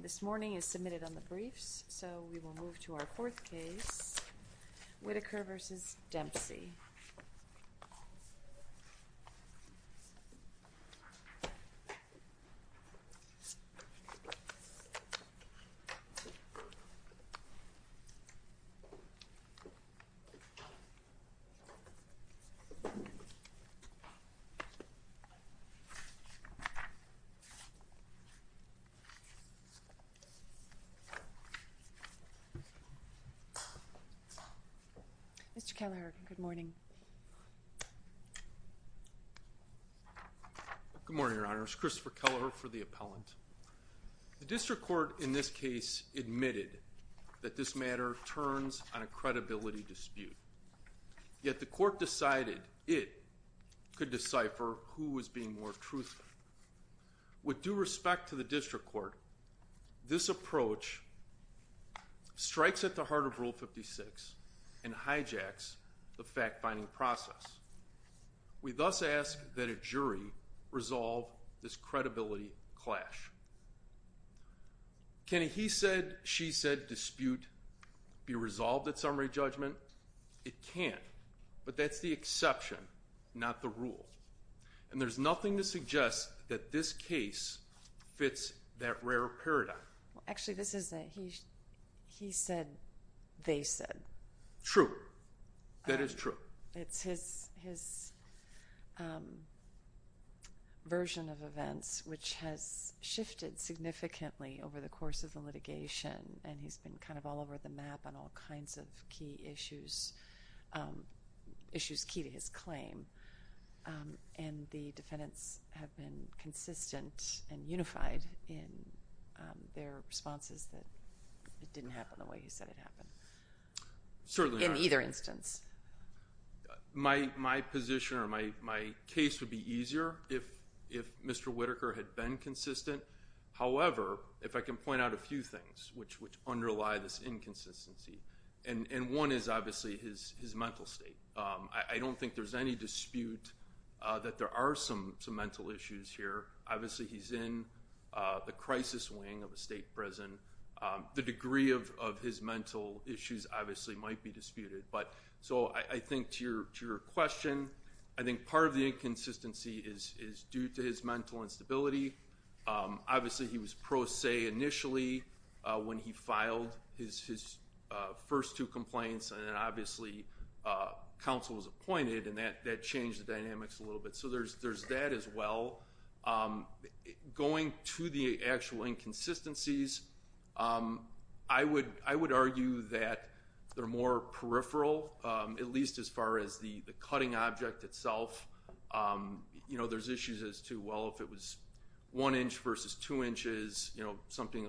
This morning is submitted on the briefs so we will move to our fourth case Whitaker v. Dempsey Mr. Kelleher, good morning Good morning your honors, Christopher Kelleher for the appellant The district court in this case admitted that this matter turns on a credibility dispute yet the court decided it could decipher who was being more truthful. With due respect to the district court, this approach strikes at the heart of rule 56 and hijacks the fact-finding process. We thus ask that a jury resolve this credibility clash. Can a he said she said dispute be resolved at summary judgment? It can't, but that's the exception, not the rule. And there's nothing to suggest that this case fits that rare paradigm. Actually this is a he said they said. True, that is true. It's his version of events which has shifted significantly over the course of the litigation and he's been kind of all over the map on all kinds of key issues. Issues key to his claim and the defendants have been consistent and unified in their responses that it didn't happen the way he said it happened. Certainly in either instance. My my position or my my case would be easier if if Mr. Whitaker had been consistent. However, if I can point out a few things which which underlie this inconsistency and one is obviously his his mental state. I don't think there's any dispute that there are some some mental issues here. Obviously he's in the crisis wing of a state prison. The degree of of his mental issues obviously might be disputed, but so I think to your to your question, I think part of the inconsistency is is due to his mental instability. Obviously he was pro se initially when he filed his his first two complaints and then obviously counsel was appointed and that that changed the dynamics a little bit. So there's there's that as well. Going to the actual inconsistencies. I would I would argue that they're more peripheral, at least as far as the the cutting object itself. You know, there's issues as to well if it was one inch versus two inches, you know, something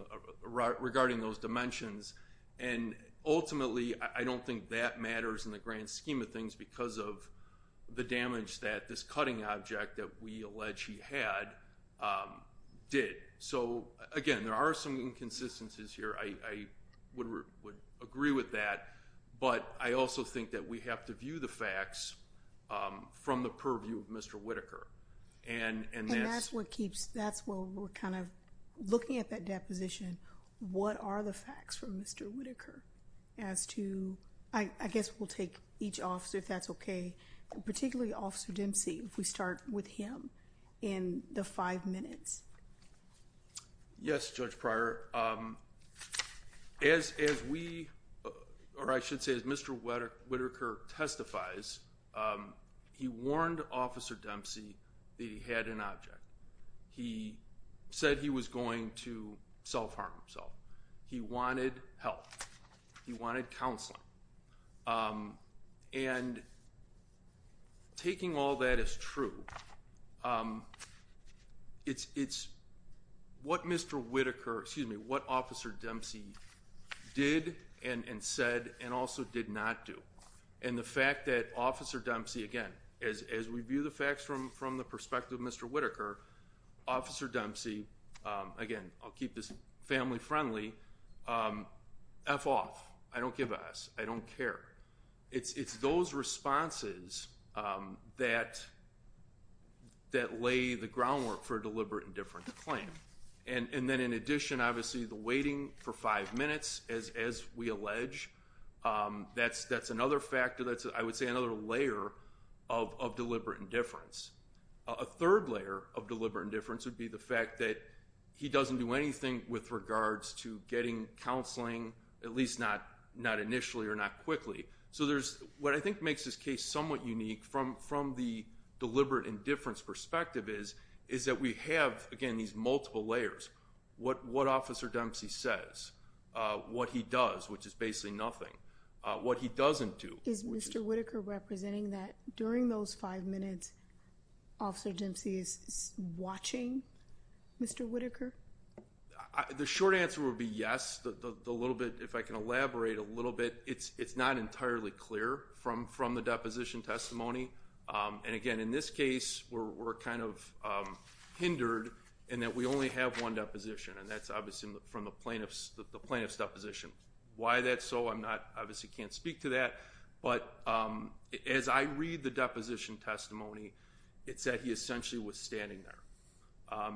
regarding those dimensions and ultimately I don't think that matters in the grand scheme of things because of the damage that this cutting object that we allege he had did. So again, there are some inconsistencies here. I would agree with that, but I also think that we have to view the facts from the purview of Mr. Whitaker and and that's what keeps that's what we're kind of looking at that deposition. What are the facts from Mr. Whitaker as to I guess we'll take each officer if that's OK, particularly officer Dempsey. If we start with him in the five minutes. Yes, Judge Pryor. As as we or I should say as Mr. Whitaker testifies, he warned Officer Dempsey that he had an object. He said he was going to self-harm himself. He wanted help. He wanted counseling. And taking all that is true. It's it's what Mr. Whitaker, excuse me, what Officer Dempsey did and said and also did not do. And the fact that Officer Dempsey again as as we view the facts from from the perspective of Mr. Whitaker, Officer Dempsey, again, I'll keep this family friendly. F off, I don't give us. I don't care. It's it's those responses that. That lay the groundwork for deliberate indifference claim and then in addition, obviously the waiting for five minutes as as we allege, that's that's another factor. That's I would say another layer of deliberate indifference. A third layer of deliberate indifference would be the fact that he doesn't do anything with regards to getting counseling, at least not not initially or not quickly. So there's what I think makes this case somewhat unique from from the deliberate indifference perspective is is that we have again these multiple layers. What what Officer Dempsey says, what he does, which is basically nothing, what he doesn't do. Is Mr. Whitaker representing that during those five minutes, Officer Dempsey is watching Mr. Whitaker. The short answer would be yes, the little bit. If I can elaborate a little bit, it's it's not entirely clear from from the deposition testimony. And again, in this case, we're kind of hindered and that we only have one deposition, and that's obviously from the plaintiffs. The plaintiffs deposition. Why that's so I'm not obviously can't speak to that, but as I read the deposition testimony, it said he essentially was standing there.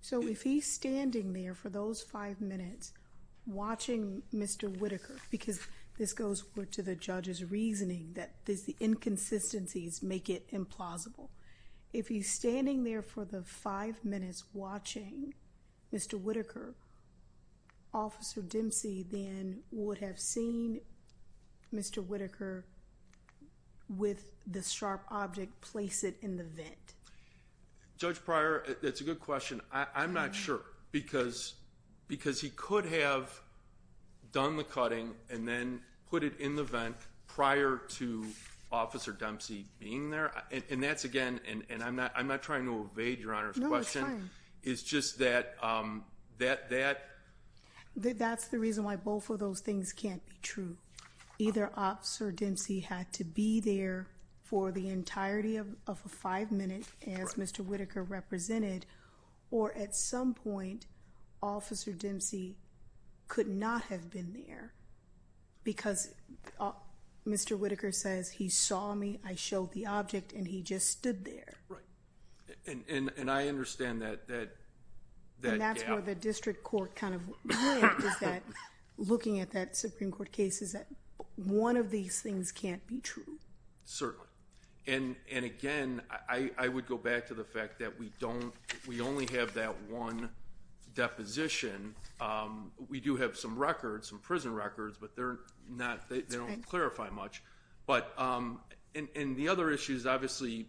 So if he's standing there for those five minutes watching Mr. Whitaker, because this goes to the judges reasoning that this the inconsistencies make it implausible. If he's standing there for the five minutes watching Mr. Whitaker. Officer Dempsey then would have seen Mr. Whitaker with the sharp object. Place it in the vent. Judge Prior, it's a good question. I'm not sure because because he could have done the cutting and then put it in the vent prior to Officer Dempsey being there. And that's again, and I'm not. I'm not trying to evade your honor's question. It's just that that that that's the reason why both of those things can't be true. Either officer Dempsey had to be there for the entirety of a five minute as Mr. Whitaker represented. Or at some point, Officer Dempsey could not have been there because Mr. Whitaker says he saw me. I showed the object and he just stood there, right? And I understand that that that's where the district court kind of went is that looking at that Supreme Court cases that one of these things can't be true. Certainly. And again, I would go back to the fact that we don't. We only have that one deposition. We do have some records from prison records, but they're not. They don't clarify much, but in the other issues obviously.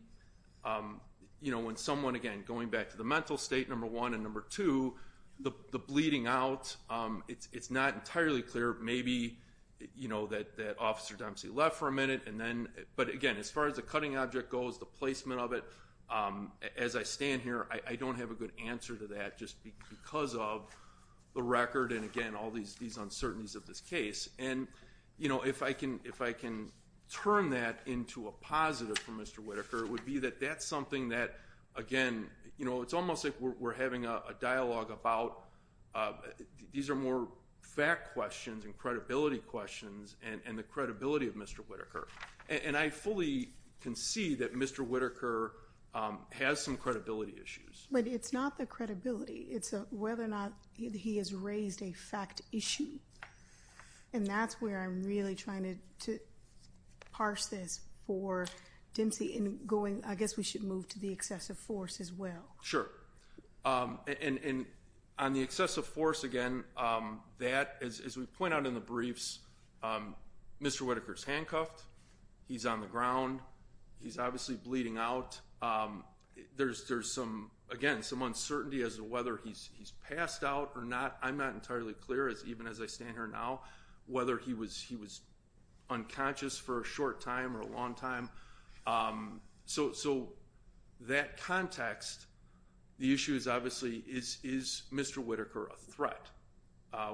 You know when someone again going back to the mental state number one and number two, the bleeding out, it's not entirely clear. Maybe you know that that officer Dempsey left for a minute and then. But again, as far as the cutting object goes, the placement of it as I stand here, I don't have a good answer to that just because of the record. And again, all these these uncertainties of this case. And you know, if I can, if I can turn that into a positive for Mr. Whitaker, it would be that that's something that again, you know, it's almost like we're having a dialogue about. These are more fact questions and credibility questions and the credibility of Mr. Whitaker. And I fully can see that Mr. Whitaker has some credibility issues, but it's not the credibility. It's a whether or not he has raised a fact issue. And that's where I'm really trying to parse this for Dempsey in going. I guess we should move to the excessive force as well. Sure, and on the excessive force again that as we point out in the briefs, Mr. Whitaker's handcuffed. He's on the ground. He's obviously bleeding out. There's there's some again some uncertainty as to whether he's passed out or not. I'm not entirely clear as even as I stand here now, whether he was he was unconscious for a short time or a long time. So that context, the issue is obviously is Mr. Whitaker a threat,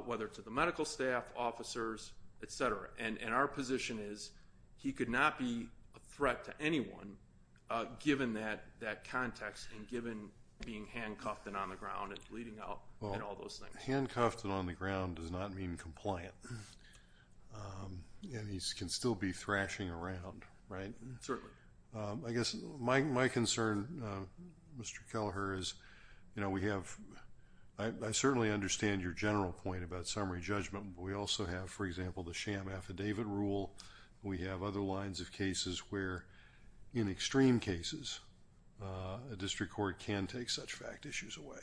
whether to the medical staff, officers, etc. And our position is he could not be a threat to anyone given that context and given being handcuffed and on the ground and bleeding out and all those things. Handcuffed and on the ground does not mean compliant. And he can still be thrashing around, right? Certainly. I guess my concern, Mr. Kelleher, is you know we have I certainly understand your general point about summary judgment, but we also have, for example, the sham affidavit rule. We have other lines of cases where in extreme cases a district court can take such fact issues away.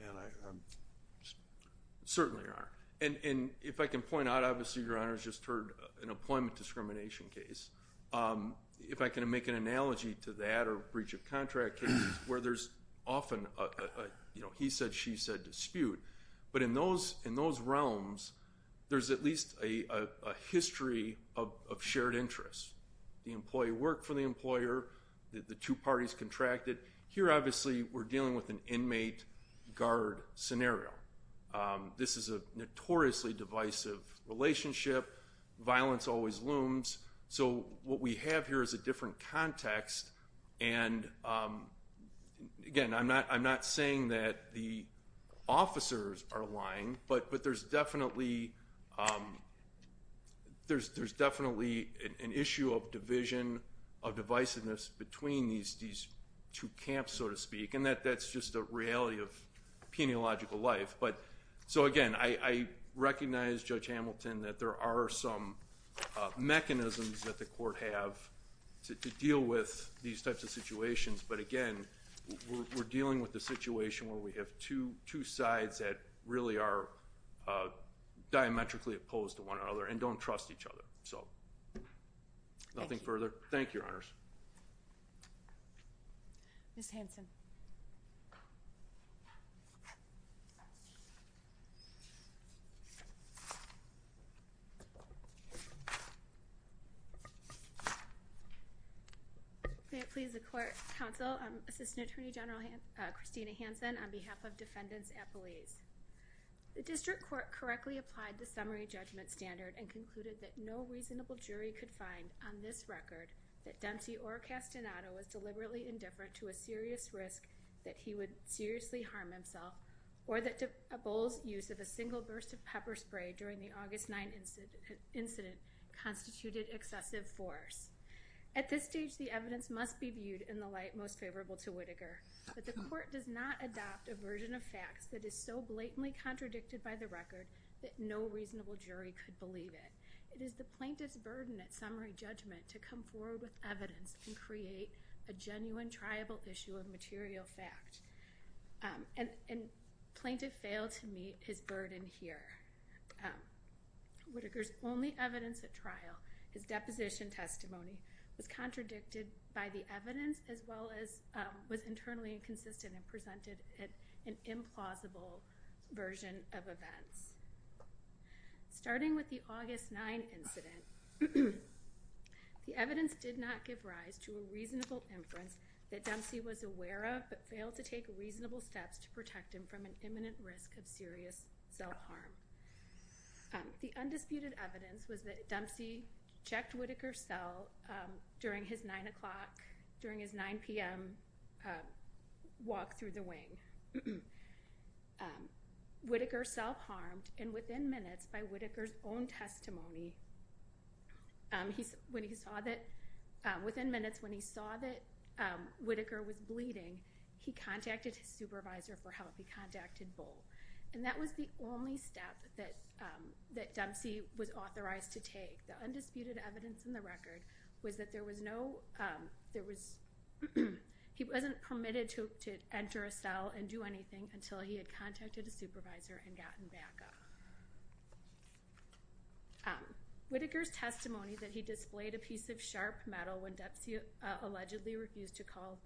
And I certainly aren't. And if I can point out, obviously, your Honor's just heard an employment discrimination case. If I can make an analogy to that or breach of contract cases where there's often a, you know, he said, she said dispute. But in those in those realms, there's at least a history of shared interest. The employee worked for the employer. The two parties contracted. Here, obviously, we're dealing with an inmate guard scenario. This is a notoriously divisive relationship. Violence always looms. So what we have here is a different context. And again, I'm not I'm not saying that the officers are lying, but there's definitely there's definitely an issue of division of divisiveness between these these two camps, so to speak, and that that's just a reality of peniological life. But so again, I recognize Judge Hamilton that there are some mechanisms that the have to deal with these types of situations. But again, we're dealing with the situation where we have two two sides that really are diametrically opposed to one another and don't trust each other. So nothing further. Thank you, Your Honors. Ms. Hanson. May it please the Court, Counsel, Assistant Attorney General Christina Hanson, on behalf of defendants at Belize. The district court correctly applied the summary judgment standard and concluded that no reasonable jury could find on this record that Dempsey or Castaneda was deliberately indifferent to a serious risk that he would seriously harm himself or that DeBowles' use of a single burst of pepper spray during the August 9 incident constituted excessive force. At this stage, the evidence must be viewed in the light most favorable to Whitaker, but the court does not adopt a version of facts that is so blatantly contradicted by the record that no reasonable jury could believe it. It is the plaintiff's burden at summary judgment to come forward with evidence and create a genuine, triable issue of material fact. And plaintiff failed to meet his burden here. Whitaker's only evidence at trial, his deposition testimony, was contradicted by the evidence as well as was internally inconsistent and presented as an implausible version of events. Starting with the August 9 incident, the evidence did not give rise to a reasonable inference that Dempsey was aware of but failed to take reasonable steps to protect him from an imminent risk of serious self-harm. The undisputed evidence was that Dempsey checked Whitaker's cell during his 9 o'clock, during his 9 p.m. walk through the wing. Whitaker self-harmed and within minutes by Whitaker's own testimony, within minutes when he saw that Whitaker was bleeding, he contacted his supervisor for help. He contacted Boal. And that was the only step that Dempsey was authorized to take. The was, he wasn't permitted to enter a cell and do anything until he had contacted a supervisor and gotten backup. Whitaker's testimony that he displayed a piece of sharp metal when Dempsey allegedly refused to call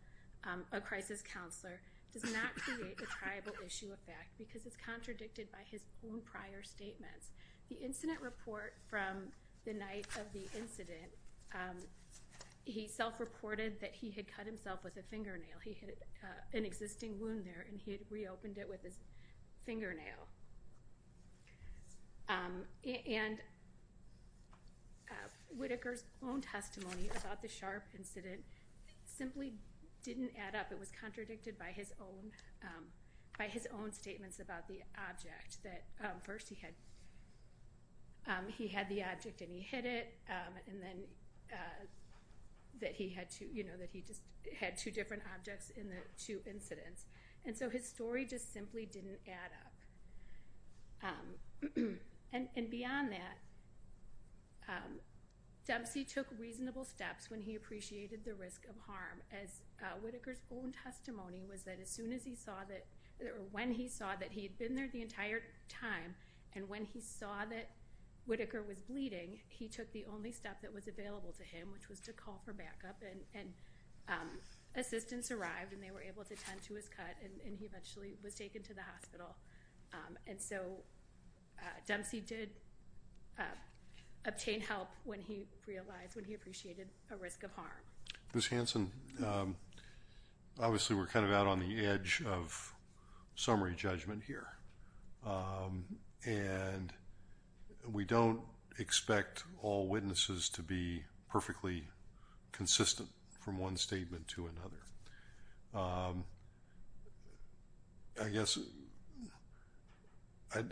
a crisis counselor does not create a triable issue of fact because it's contradicted by his own prior statements. The incident report from the night of the incident, he self-reported that he had cut himself with a fingernail. He had an existing wound there and he had reopened it with his fingernail. And Whitaker's own testimony about the sharp incident simply didn't add up. It was contradicted by his own, by his own statements about the object. That first he had, he had the object and he hit it and then that he had to, you know, that he just had two different objects in the two incidents. And so his story just simply didn't add up. And beyond that, Dempsey took reasonable steps when he appreciated the risk of harm as Whitaker's own testimony was that as soon as he saw that, or when he saw that he had been there the entire time and when he saw that Whitaker was bleeding, he took the only step that was available to him, which was to call for backup and, and, um, assistance arrived and they were able to tend to his cut and he eventually was taken to the hospital. Um, and so, uh, Dempsey did, uh, obtain help when he realized when he appreciated a risk of harm. Ms. Hanson, um, obviously we're kind of out on the edge of summary judgment here. Um, and we don't expect all witnesses to be perfectly consistent from one statement to another. Um, I guess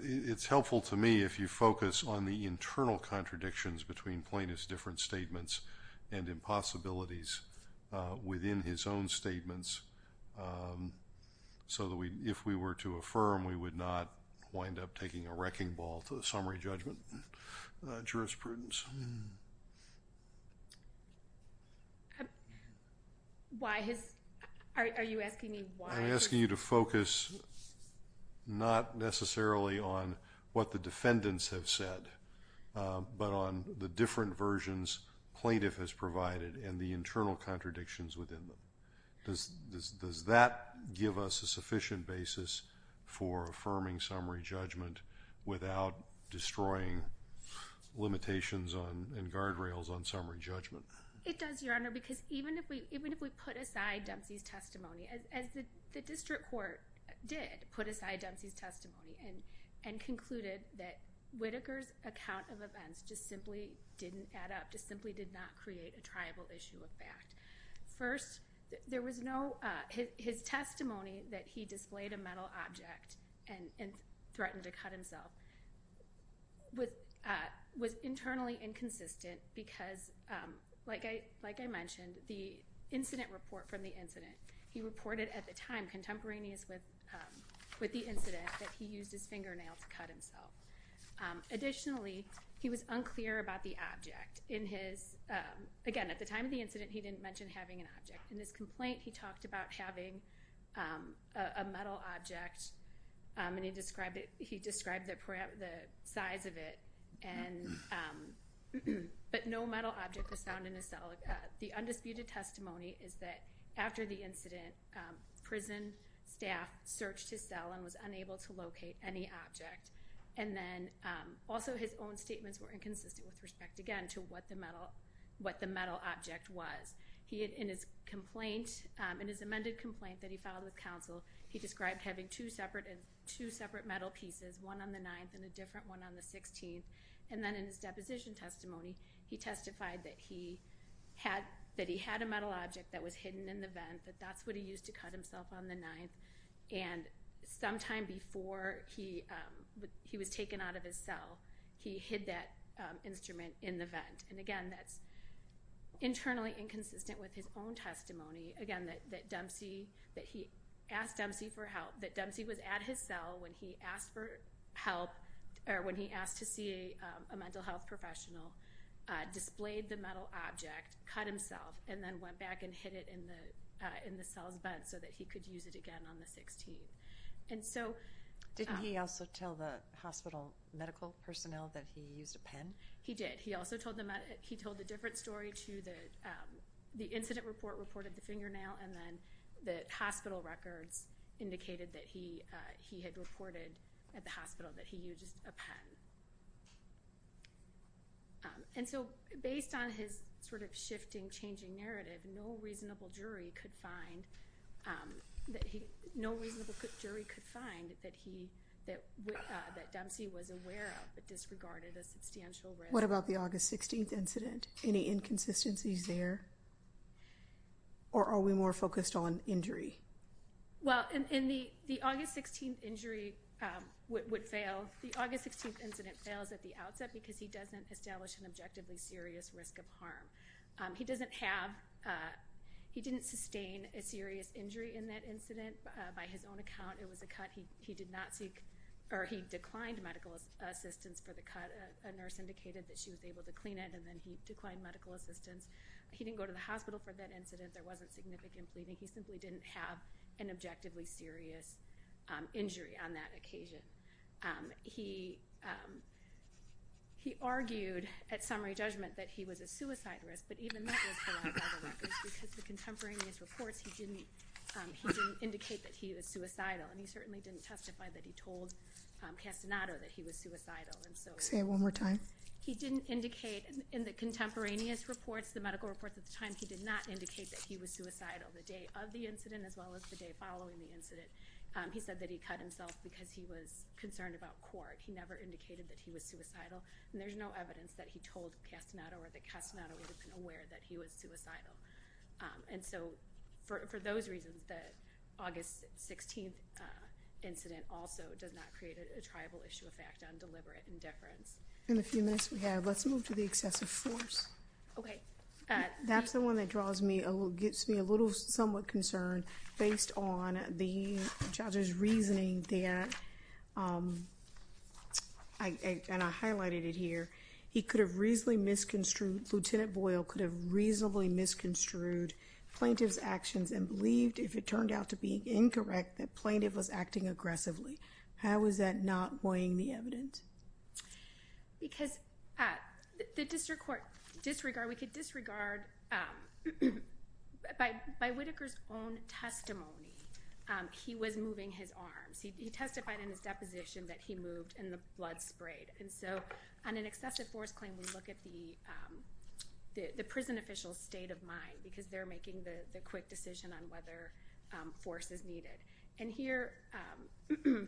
it's helpful to me if you focus on the internal contradictions between Plaintiff's different statements and impossibilities, uh, within his own statements, um, so that we, if we were to affirm, we would not wind up taking a wrecking ball to the summary judgment, uh, jurisprudence. Why has, are you asking me why? I'm asking you to focus not necessarily on what the defendants have said, uh, but on the different versions Plaintiff has provided and the internal contradictions within them. Does, does, does that give us a sufficient basis for affirming summary judgment without destroying limitations on, in guardrails on summary judgment? It does, Your Honor, because even if we, even if we put aside Dempsey's testimony, as, as the District Court did put aside Dempsey's testimony and, and concluded that Whitaker's account of events just simply didn't add up, just simply did not create a triable issue of fact. First, there was no, uh, his testimony that he displayed a metal object and, and threatened to cut himself with, uh, was internally inconsistent because, um, like I, like I mentioned, the incident report from the incident, he reported at the time contemporaneous with, um, with the incident that he used his fingernail to cut himself. Additionally, he was unclear about the object in his, um, again, at the time of the incident, he didn't mention having an object. In this complaint, he talked about having, um, a metal object, um, and he described it, he described the size of it and, um, but no metal object was found in his cell. The undisputed testimony is that after the incident, um, prison staff searched his cell and was unable to locate any object. And then, um, also his own statements were inconsistent with respect, again, to what the metal, what the metal object was. He had, in his complaint, um, in his amended complaint that he filed with counsel, he described having two separate, two separate metal pieces, one on the 9th and a different one on the 16th, and then in his had, that he had a metal object that was hidden in the vent, that that's what he used to cut himself on the 9th, and sometime before he, um, he was taken out of his cell, he hid that, um, instrument in the vent. And again, that's internally inconsistent with his own testimony, again, that, that Dempsey, that he asked Dempsey for help, that Dempsey was at his cell when he asked for help, or when he asked to see a, um, a mental health professional, uh, displayed the metal object, cut himself, and then went back and hid it in the, uh, in the cell's vent so that he could use it again on the 16th. And so... Didn't he also tell the hospital medical personnel that he used a pen? He did. He also told them, he told a different story to the, um, the incident report and then the hospital records indicated that he, uh, he had reported at the hospital that he used a pen. Um, and so based on his sort of shifting, changing narrative, no reasonable jury could find, um, that he, no reasonable jury could find that he, that, uh, that Dempsey was aware of but disregarded a substantial risk. What about the August 16th incident? Any inconsistencies there? Or are we more focused on injury? Well, in the, the August 16th injury, um, would fail. The August 16th incident fails at the outset because he doesn't establish an objectively serious risk of harm. Um, he doesn't have, uh, he didn't sustain a serious injury in that incident. By his own account, it was a cut. He, he did not seek, or he declined medical assistance for the cut. A nurse indicated that she was able to clean it and then he declined medical assistance. He didn't go to hospital for that incident. There wasn't significant bleeding. He simply didn't have an objectively serious, um, injury on that occasion. Um, he, um, he argued at summary judgment that he was a suicide risk but even that was for a lot of other records because the contemporaneous reports, he didn't, um, he didn't indicate that he was suicidal and he certainly didn't testify that he told, um, Castaneda that he was suicidal and so. Say it one more time. He didn't indicate in the contemporaneous reports, the medical reports at the time, he did not indicate that he was suicidal. The day of the incident as well as the day following the incident, um, he said that he cut himself because he was concerned about court. He never indicated that he was suicidal and there's no evidence that he told Castaneda or that Castaneda would have been aware that he was suicidal. Um, and so for, for those reasons, the August 16th, uh, incident also does not create a tribal issue effect on deliberate indifference. In the few minutes we have, let's move to the excessive force. Okay. Uh, that's the one that draws me a little, gets me a little somewhat concerned based on the judge's reasoning there. Um, I, and I highlighted it here. He could have reasonably misconstrued, Lieutenant Boyle could have reasonably misconstrued plaintiff's actions and believed if it turned out to be incorrect, that plaintiff was acting aggressively. How is not weighing the evidence? Because, uh, the district court disregard, we could disregard, um, by, by Whitaker's own testimony, um, he was moving his arms. He testified in his deposition that he moved and the blood sprayed. And so on an excessive force claim, we look at the, um, the, the prison official's state of mind because they're making the, the quick decision on whether, um, force is needed. And here, um,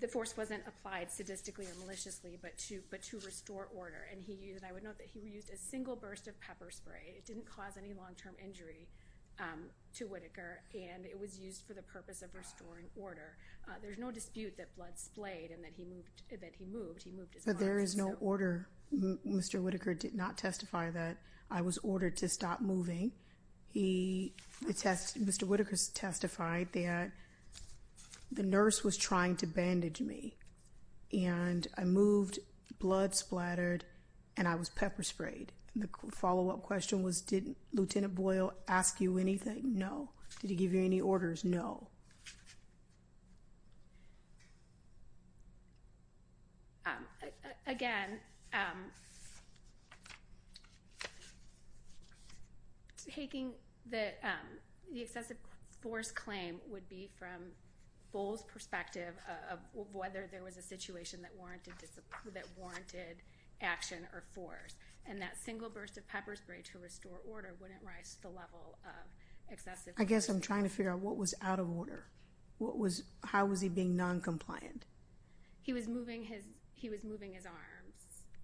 the force wasn't applied sadistically or maliciously, but to, but to restore order. And he used, I would note that he reused a single burst of pepper spray. It didn't cause any long-term injury, um, to Whitaker. And it was used for the purpose of restoring order. Uh, there's no dispute that blood splayed and that he moved, that he moved, he moved his arms. But there is no order. Mr. Whitaker did not testify that I was ordered to stop moving. He, the test, Mr. Whitaker testified that the nurse was trying to bandage me and I moved blood splattered and I was pepper sprayed. The follow-up question was, did Lieutenant Boyle ask you anything? No. Did he give you any orders? No. Um, again, um, taking the, um, the excessive force claim would be from Bull's perspective of whether there was a situation that warranted, that warranted action or force. And that single burst of pepper spray to restore order wouldn't rise to the level of excessive force. I guess I'm trying to figure out what was out of order. What was, how was he being non-compliant? He was moving his, he was moving his arms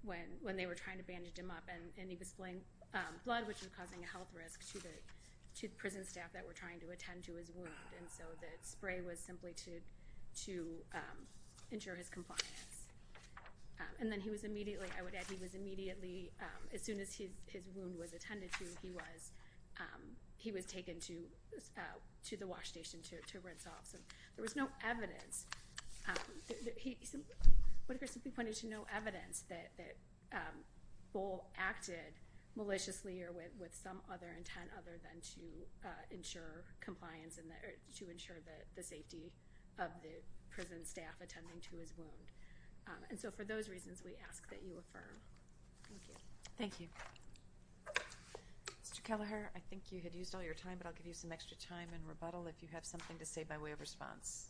when, when they were trying to bandage him up and he was spilling, um, blood which was causing a health risk to the, to the prison staff that were trying to attend to his wound. And so the spray was simply to, to, um, ensure his compliance. Um, and then he was immediately, I would add he was immediately, um, as soon as his, his wound was attended to, he was, um, he was taken to, uh, to the wash station to, to rinse off. So there was no evidence, um, that he, what if we're simply pointing to no evidence that, that, um, Bull acted maliciously or with, with some other intent other than to, uh, ensure compliance in the, to ensure that the safety of the prison staff attending to his wound. And so for those reasons we ask that you affirm. Thank you. Thank you. Mr. Kelleher, I think you had used all your time, but I'll give you some extra time and rebuttal if you have something to say by way of response.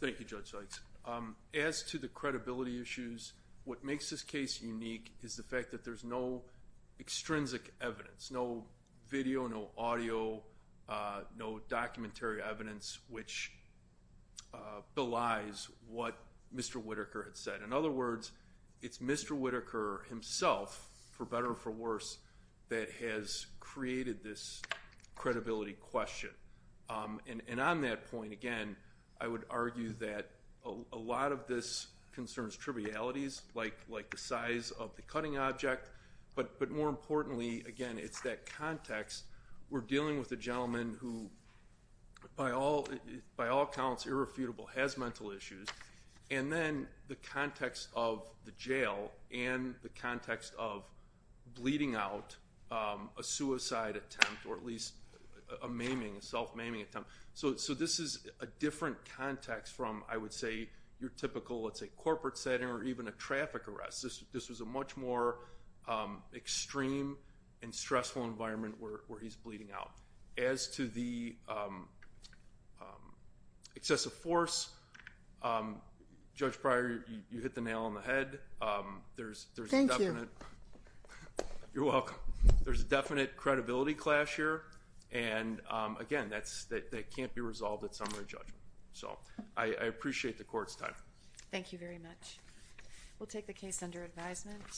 Thank you, Judge Sykes. Um, as to the credibility issues, what makes this case unique is the fact that there's no extrinsic evidence, no video, no audio, uh, no documentary evidence, which, uh, belies what Mr. Whitaker had said. In other words, it's Mr. Whitaker himself, for better or for worse, that has created this credibility question. Um, and, and on that point, again, I would argue that a lot of this concerns trivialities like, like the size of the cutting object, but, but more importantly, again, it's that context we're dealing with a gentleman who by all, by all counts, irrefutable, has mental issues. And then the context of the jail and the context of bleeding out, um, a suicide attempt, or at least a maiming, a self-maiming attempt. So, so this is a different context from, I would say your typical, let's say corporate setting, or even a traffic arrest. This, this was a much more, um, extreme and stressful environment where, where he's bleeding out. As to the, um, um, excessive force, um, Judge Pryor, you hit the nail on the head. Um, there's, there's a definite, you're welcome. There's a definite credibility clash here. And, um, again, that's, that, that can't be resolved at summary judgment. So I, I appreciate the court's time. Thank you very much. We'll take the case under advisement.